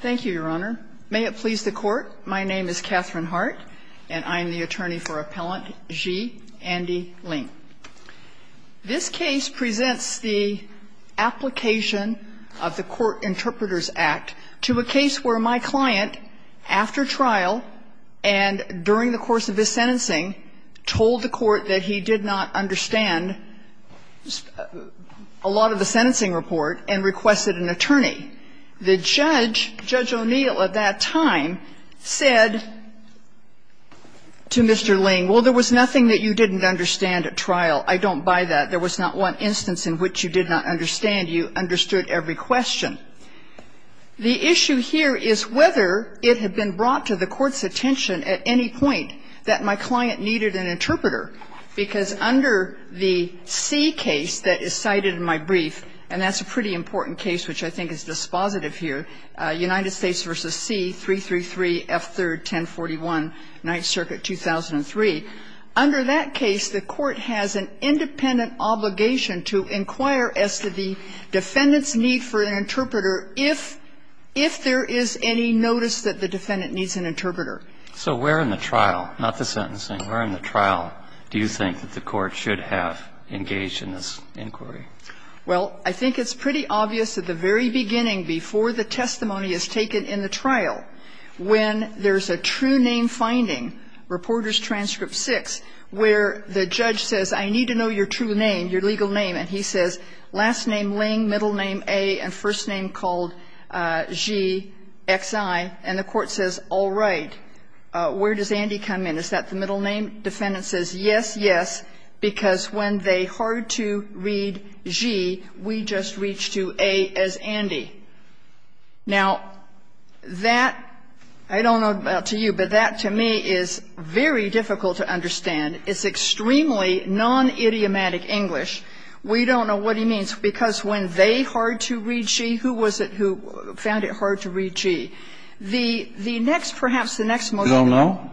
Thank you, Your Honor. May it please the Court, my name is Katherine Hart, and I am the attorney for Appellant Xi Andy Lieng. This case presents the application of the Court Interpreters Act to a case where my client, after trial and during the course of his sentencing, told the Court that he did not understand a lot of the sentencing report and requested an attorney. The judge, Judge O'Neill at that time, said to Mr. Lieng, well, there was nothing that you didn't understand at trial. I don't buy that. There was not one instance in which you did not understand. You understood every question. The issue here is whether it had been brought to the Court's attention at any point that my client needed an interpreter, because under the C case that is cited in my brief, and that's a pretty important case which I think is dispositive here, United States v. C, 333 F. 3rd, 1041, 9th Circuit, 2003. Under that case, the Court has an independent obligation to inquire as to the defendant's need for an interpreter if there is any notice that the defendant needs an interpreter. So where in the trial, not the sentencing, where in the trial do you think that the Court should have engaged in this inquiry? Well, I think it's pretty obvious at the very beginning, before the testimony is taken in the trial, when there's a true name finding, Reporters' Transcript 6, where the judge says, I need to know your true name, your legal name. And he says, last name Lieng, middle name A, and first name called Xi, X-I. And the Court says, all right, where does Andy come in? Is that the middle name? Defendant says, yes, yes, because when they hard to read Xi, we just reach to A as Andy. Now, that, I don't know about to you, but that to me is very difficult to understand. It's extremely non-idiomatic English. We don't know what he means. Because when they hard to read Xi, who was it who found it hard to read Xi? The next, perhaps the next motion. You don't know?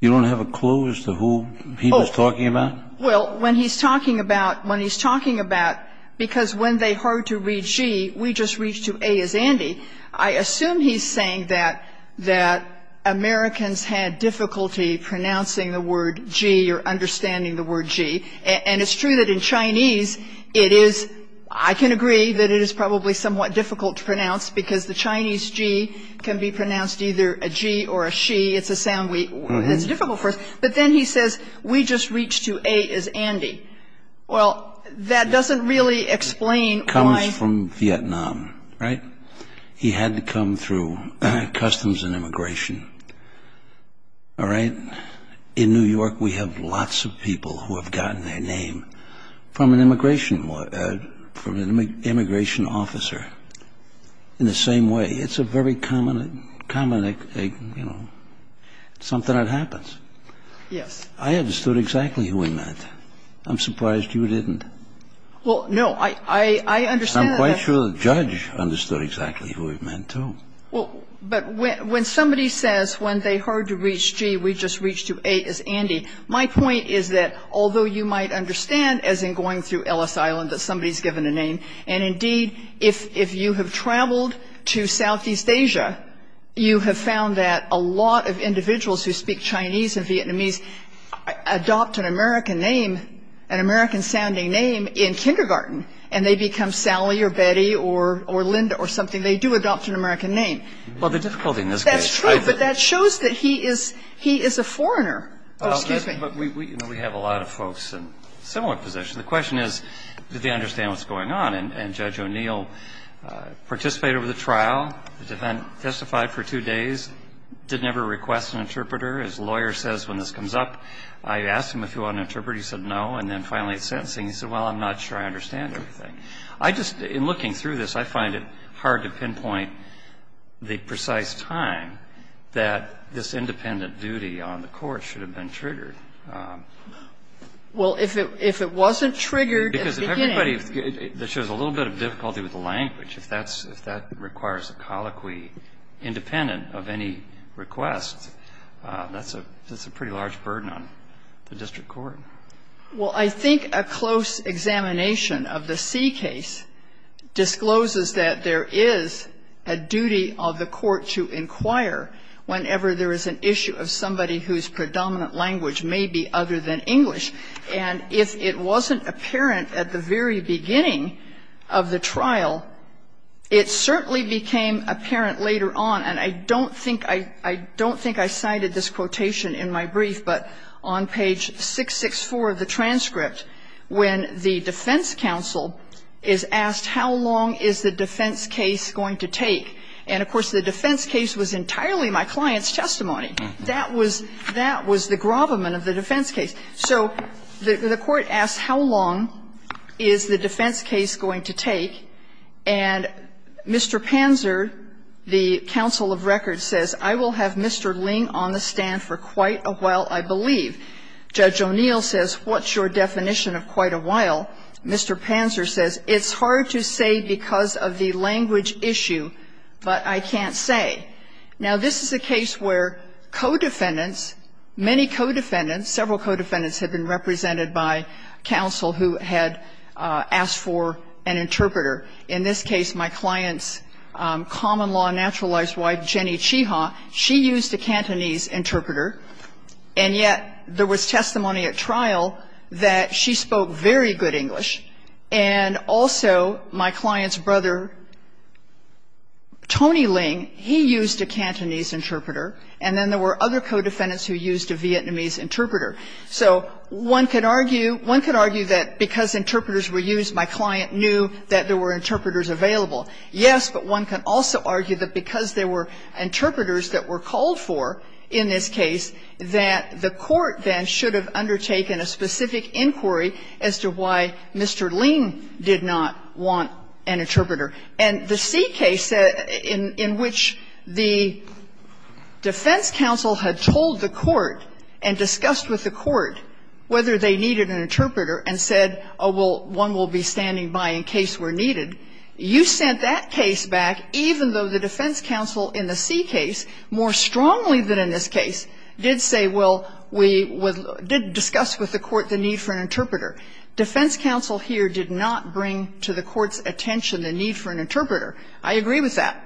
You don't have a clue as to who he was talking about? Well, when he's talking about, when he's talking about, because when they hard to read Xi, we just reach to A as Andy, I assume he's saying that, that Americans had difficulty pronouncing the word Xi or understanding the word Xi. And it's true that in Chinese, it is, I can agree that it is probably somewhat difficult to pronounce, because the Chinese Xi can be pronounced either a G or a Xi. It's a sound we, it's difficult for us. But then he says, we just reach to A as Andy. Well, that doesn't really explain why. He comes from Vietnam, right? He had to come through Customs and Immigration, all right? In New York, we have lots of people who have gotten their name from an immigration, from an immigration officer in the same way. It's a very common, common, you know, something that happens. Yes. I understood exactly who he meant. I'm surprised you didn't. Well, no. I understand that. I'm quite sure the judge understood exactly who he meant, too. Well, but when somebody says when they hard to reach Xi, we just reach to A as Andy, my point is that although you might understand, as in going through Ellis Island, that somebody's given a name, and indeed, if you have traveled to Southeast Asia, you have found that a lot of individuals who speak Chinese and Vietnamese adopt an American name, an American-sounding name in kindergarten, and they become Sally or Betty or Linda or something. They do adopt an American name. Well, the difficulty in this case. That's true, but that shows that he is a foreigner. Oh, excuse me. But we have a lot of folks in similar positions. The question is, did they understand what's going on? And Judge O'Neill participated with the trial, testified for two days, didn't ever request an interpreter. His lawyer says when this comes up, I asked him if he wanted an interpreter. He said no. And then finally at sentencing, he said, well, I'm not sure I understand everything. I just, in looking through this, I find it hard to pinpoint the precise time that this independent duty on the court should have been triggered. Well, if it wasn't triggered at the beginning. Because if everybody, it shows a little bit of difficulty with the language. If that's, if that requires a colloquy independent of any request, that's a pretty large burden on the district court. Well, I think a close examination of the C case discloses that there is a duty of the court to inquire whenever there is an issue of somebody whose predominant language may be other than English. And if it wasn't apparent at the very beginning of the trial, it certainly became apparent later on. And I don't think, I don't think I cited this quotation in my brief, but on page 664 of the transcript, when the defense counsel is asked how long is the defense case going to take. And, of course, the defense case was entirely my client's testimony. That was, that was the grovelment of the defense case. So the court asks how long is the defense case going to take. And Mr. Panzer, the counsel of record, says, I will have Mr. Ling on the stand for quite a while, I believe. Judge O'Neill says, what's your definition of quite a while? Mr. Panzer says, it's hard to say because of the language issue, but I can't say. Now, this is a case where co-defendants, many co-defendants, several co-defendants have been represented by counsel who had asked for an interpreter. In this case, my client's common-law naturalized wife, Jenny Chiha, she used a Cantonese interpreter, and yet there was testimony at trial that she spoke very good English, and also my client's brother, Tony Ling, he used a Cantonese interpreter, and then there were other co-defendants who used a Vietnamese interpreter. So one could argue, one could argue that because interpreters were used, my client knew that there were interpreters available. Yes, but one can also argue that because there were interpreters that were called for in this case, that the court then should have undertaken a specific inquiry as to why Mr. Ling did not want an interpreter. And the C case in which the defense counsel had told the court and discussed with the court whether they needed an interpreter and said, oh, well, one will be standing by in case we're needed, you sent that case back, even though the defense counsel in the C case more strongly than in this case did say, well, we did discuss with the court the need for an interpreter. Defense counsel here did not bring to the court's attention the need for an interpreter. I agree with that.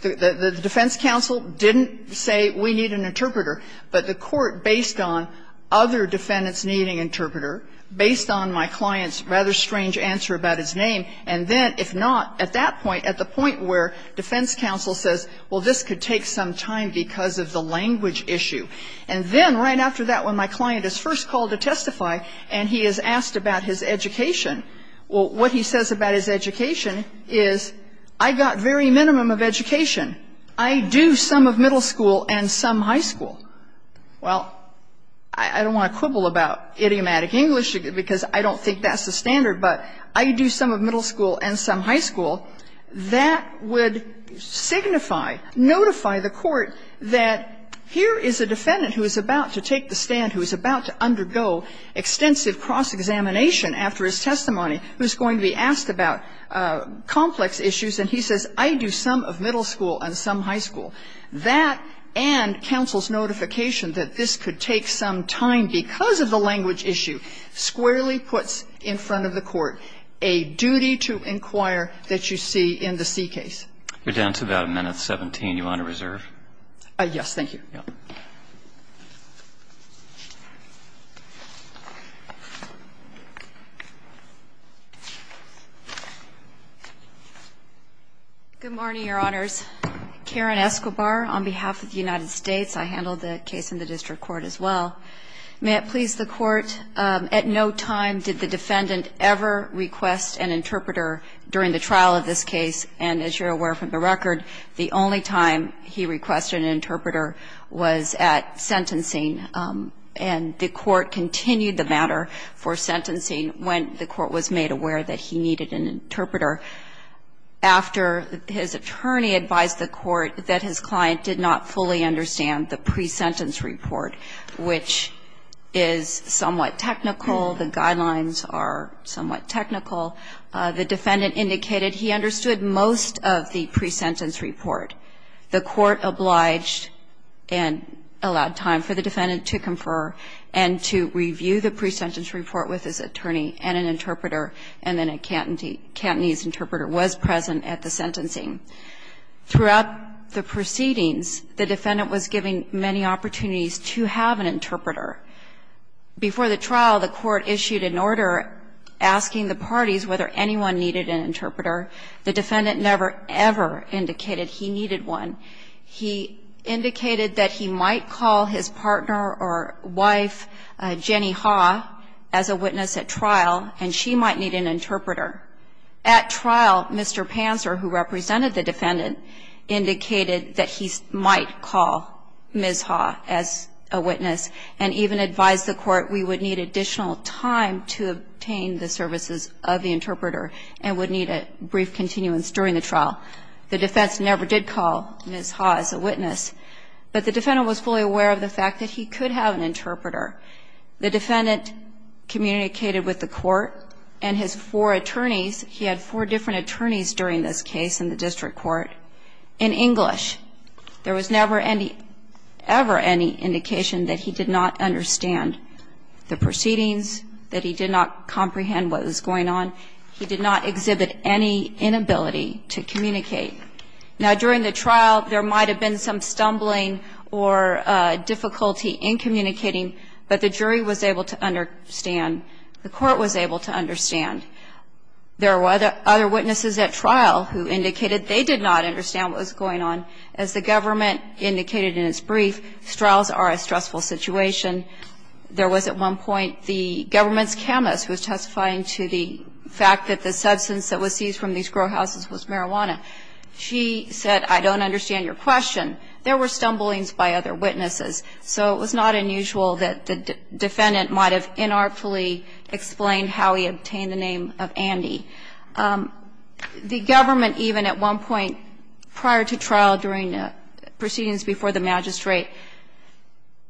The defense counsel didn't say we need an interpreter, but the court, based on other if not at that point, at the point where defense counsel says, well, this could take some time because of the language issue. And then right after that, when my client is first called to testify and he is asked about his education, well, what he says about his education is, I got very minimum of education. I do some of middle school and some high school. Well, I don't want to quibble about idiomatic English because I don't think that's a standard, but I do some of middle school and some high school. That would signify, notify the court that here is a defendant who is about to take the stand, who is about to undergo extensive cross-examination after his testimony, who is going to be asked about complex issues, and he says, I do some of middle school and some high school. That and counsel's notification that this could take some time because of the language issue squarely puts in front of the court a duty to inquire that you see in the C case. You're down to about a minute 17. Do you want to reserve? Yes, thank you. Good morning, Your Honors. Karen Escobar on behalf of the United States. I handled the case in the district court as well. May it please the Court, at no time did the defendant ever request an interpreter during the trial of this case, and as you're aware from the record, the only time he requested an interpreter was at sentencing, and the court continued the matter for sentencing when the court was made aware that he needed an interpreter. After his attorney advised the court that his client did not fully understand the presentence report, which is somewhat technical, the guidelines are somewhat technical, the defendant indicated he understood most of the presentence report. The court obliged and allowed time for the defendant to confer and to review the presentence report with his attorney and an interpreter, and then a Cantonese interpreter was present at the sentencing. Throughout the proceedings, the defendant was given many opportunities to have an interpreter. Before the trial, the court issued an order asking the parties whether anyone needed an interpreter. The defendant never, ever indicated he needed one. He indicated that he might call his partner or wife, Jenny Ha, as a witness at trial, and she might need an interpreter. At trial, Mr. Panzer, who represented the defendant, indicated that he might call Ms. Ha as a witness and even advised the court we would need additional time to obtain the services of the interpreter and would need a brief continuance during the trial. The defense never did call Ms. Ha as a witness, but the defendant was fully aware The defendant communicated with the court and his four attorneys, he had four different attorneys during this case in the district court, in English. There was never any, ever any indication that he did not understand the proceedings, that he did not comprehend what was going on. He did not exhibit any inability to communicate. Now, during the trial, there might have been some stumbling or difficulty in communicating but the jury was able to understand, the court was able to understand. There were other witnesses at trial who indicated they did not understand what was going on. As the government indicated in its brief, trials are a stressful situation. There was, at one point, the government's chemist who was testifying to the fact that the substance that was seized from these grow houses was marijuana. She said, I don't understand your question. There were stumblings by other witnesses. So it was not unusual that the defendant might have inartfully explained how he obtained the name of Andy. The government, even at one point prior to trial during the proceedings before the magistrate,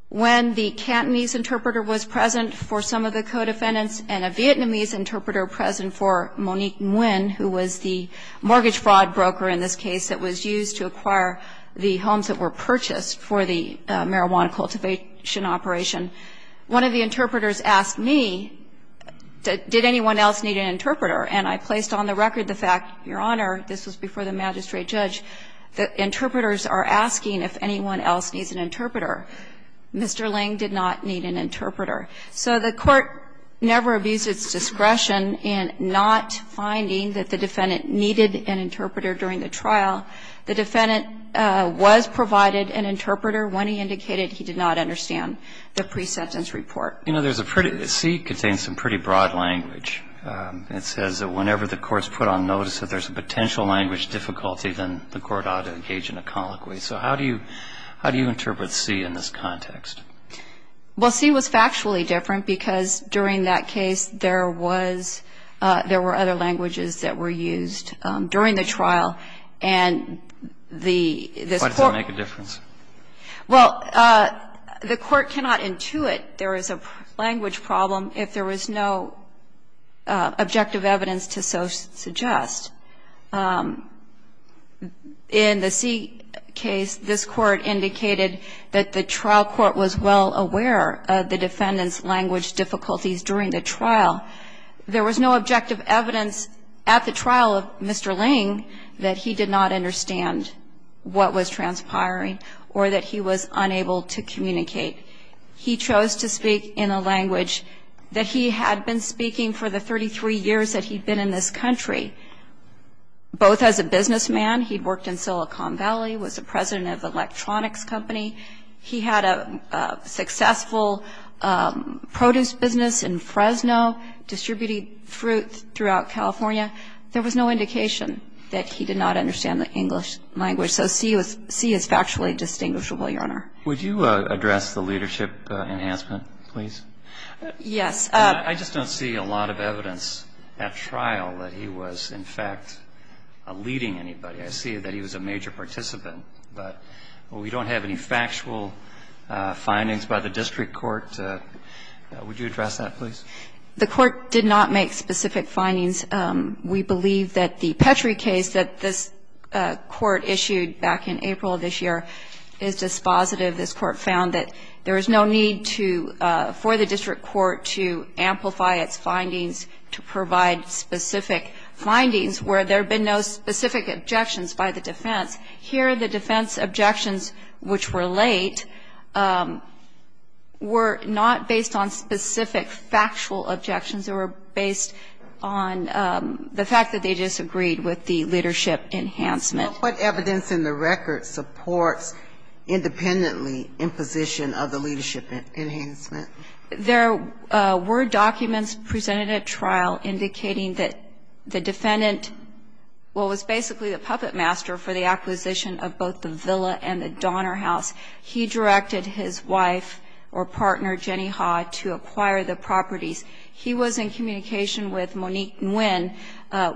when the Cantonese interpreter was present for some of the co-defendants and a Vietnamese interpreter present for Monique Nguyen, who was the mortgage fraud broker in this case that was used to acquire the homes that were purchased for the marijuana cultivation operation, one of the interpreters asked me, did anyone else need an interpreter? And I placed on the record the fact, Your Honor, this was before the magistrate judge, that interpreters are asking if anyone else needs an interpreter. Mr. Ling did not need an interpreter. So the court never abused its discretion in not finding that the defendant needed an interpreter during the trial. The defendant was provided an interpreter when he indicated he did not understand the pre-sentence report. You know, there's a pretty – C contains some pretty broad language. It says that whenever the court's put on notice that there's a potential language difficulty, then the court ought to engage in a colloquy. So how do you – how do you interpret C in this context? Well, C was factually different, because during that case, there was – there were other languages that were used during the trial. And the – this court – Why does that make a difference? Well, the court cannot intuit there is a language problem if there was no objective evidence to so suggest. In the C case, this court indicated that the trial court was well aware of the defendant's language difficulties during the trial. There was no objective evidence at the trial of Mr. Ling that he did not understand what was transpiring or that he was unable to communicate. He chose to speak in a language that he had been speaking for the 33 years that he'd been in this country. Both as a businessman. He'd worked in Silicon Valley, was the president of an electronics company. He had a successful produce business in Fresno, distributed fruit throughout California. There was no indication that he did not understand the English language. So C was – C is factually distinguishable, Your Honor. Would you address the leadership enhancement, please? Yes. I just don't see a lot of evidence at trial that he was, in fact, leading anybody. I see that he was a major participant. But we don't have any factual findings by the district court. Would you address that, please? The court did not make specific findings. We believe that the Petrie case that this court issued back in April of this year is dispositive. And I believe this court found that there is no need to – for the district court to amplify its findings to provide specific findings where there have been no specific objections by the defense. Here the defense objections, which were late, were not based on specific factual objections. They were based on the fact that they disagreed with the leadership enhancement. What evidence in the record supports independently imposition of the leadership enhancement? There were documents presented at trial indicating that the defendant – well, was basically the puppet master for the acquisition of both the villa and the Donner house. He directed his wife or partner, Jenny Ha, to acquire the properties. He was in communication with Monique Nguyen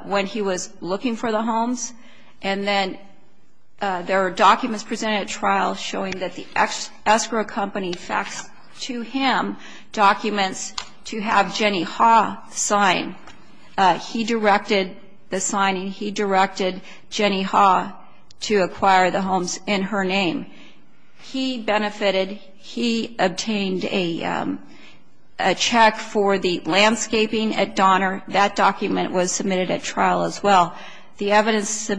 when he was looking for the homes. And then there are documents presented at trial showing that the escrow company faxed to him documents to have Jenny Ha sign. He directed the signing. He directed Jenny Ha to acquire the homes in her name. He benefited. He obtained a check for the landscaping at Donner. That document was submitted at trial as well. The evidence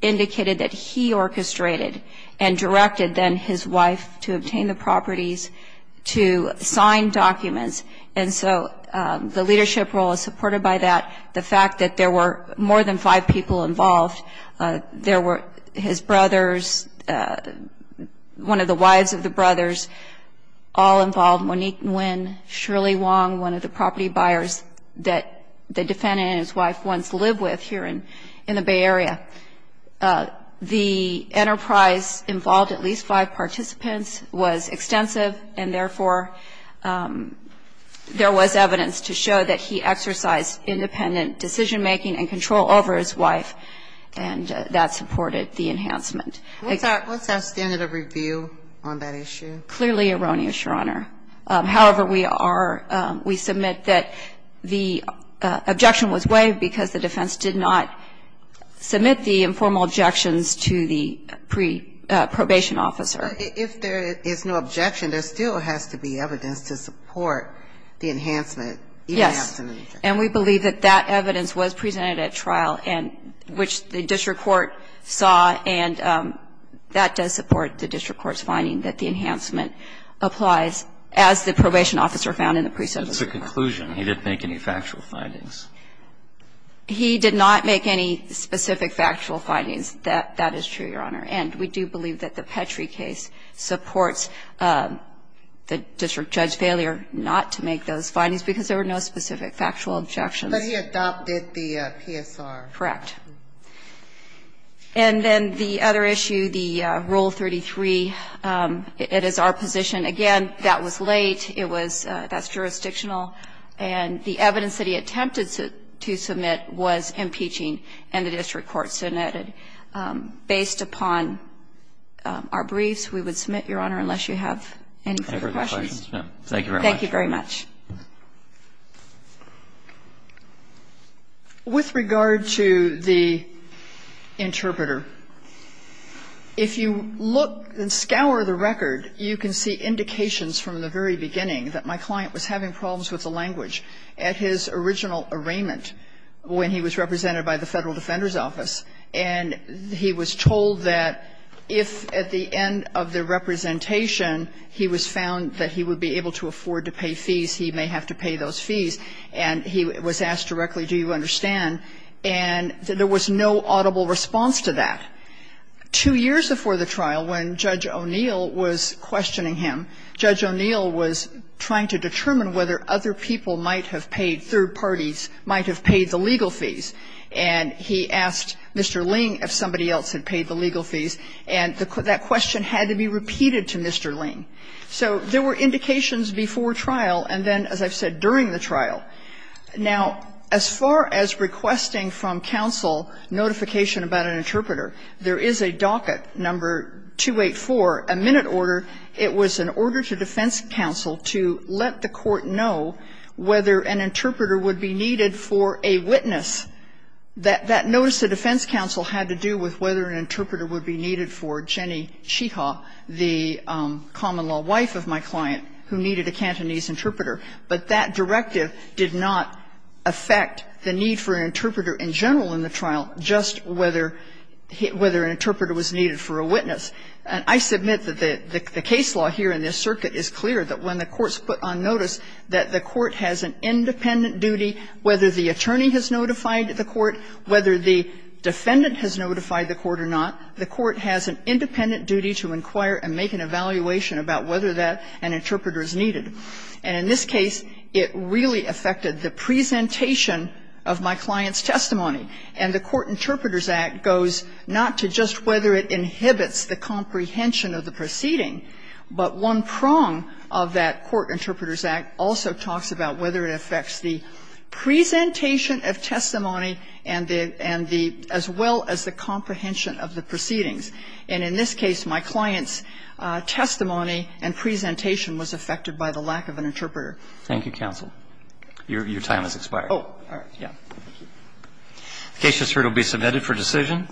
indicated that he orchestrated and directed then his wife to obtain the properties to sign documents. And so the leadership role is supported by that. The fact that there were more than five people involved, there were his brothers, one of the wives of the brothers, all involved, Monique Nguyen, Shirley Wong, one of the property buyers that the defendant and his wife once lived with here in the Bay Area. The enterprise involved at least five participants, was extensive, and therefore there was evidence to show that he exercised independent decision-making and control over his wife, and that supported the enhancement. What's our standard of review on that issue? Clearly erroneous, Your Honor. However, we are, we submit that the objection was waived because the defense did not submit the informal objections to the pre-probation officer. If there is no objection, there still has to be evidence to support the enhancement. Yes. And we believe that that evidence was presented at trial, which the district court saw, and that does support the district court's finding that the enhancement applies, as the probation officer found in the pre-submission. It's a conclusion. He didn't make any factual findings. He did not make any specific factual findings. That is true, Your Honor. And we do believe that the Petrie case supports the district judge's failure not to make those findings because there were no specific factual objections. But he adopted the PSR. Correct. And then the other issue, the Rule 33, it is our position. Again, that was late. It was, that's jurisdictional. And the evidence that he attempted to submit was impeaching, and the district court submitted. Based upon our briefs, we would submit, Your Honor, unless you have any further questions. Thank you very much. Thank you very much. With regard to the interpreter, if you look and scour the record, you can see indications from the very beginning that my client was having problems with the language at his original arraignment when he was represented by the Federal Defender's Office, and he was told that if at the end of the representation he was found that he would be able to afford to pay fees, he may have to pay those fees, and he was asked directly, do you understand? And there was no audible response to that. Two years before the trial, when Judge O'Neill was questioning him, Judge O'Neill was trying to determine whether other people might have paid, third parties might have paid the legal fees, and he asked Mr. Ling if somebody else had paid the legal fees. So there were indications before trial and then, as I've said, during the trial. Now, as far as requesting from counsel notification about an interpreter, there is a docket, number 284, a minute order. It was an order to defense counsel to let the court know whether an interpreter would be needed for a witness. That notice to defense counsel had to do with whether an interpreter would be needed for Jenny Chiha, the common-law wife of my client, who needed a Cantonese interpreter. But that directive did not affect the need for an interpreter in general in the trial, just whether an interpreter was needed for a witness. And I submit that the case law here in this circuit is clear that when the court's notice that the court has an independent duty, whether the attorney has notified the court, whether the defendant has notified the court or not, the court has an independent duty to inquire and make an evaluation about whether an interpreter is needed. And in this case, it really affected the presentation of my client's testimony. And the Court Interpreters Act goes not to just whether it inhibits the comprehension of the proceeding, but one prong of that Court Interpreters Act also talks about whether it affects the presentation of testimony and the as well as the comprehension of the proceedings. And in this case, my client's testimony and presentation was affected by the lack of an interpreter. Thank you, counsel. Your time has expired. Oh, all right. Yeah. Thank you. The case just heard will be submitted for decision.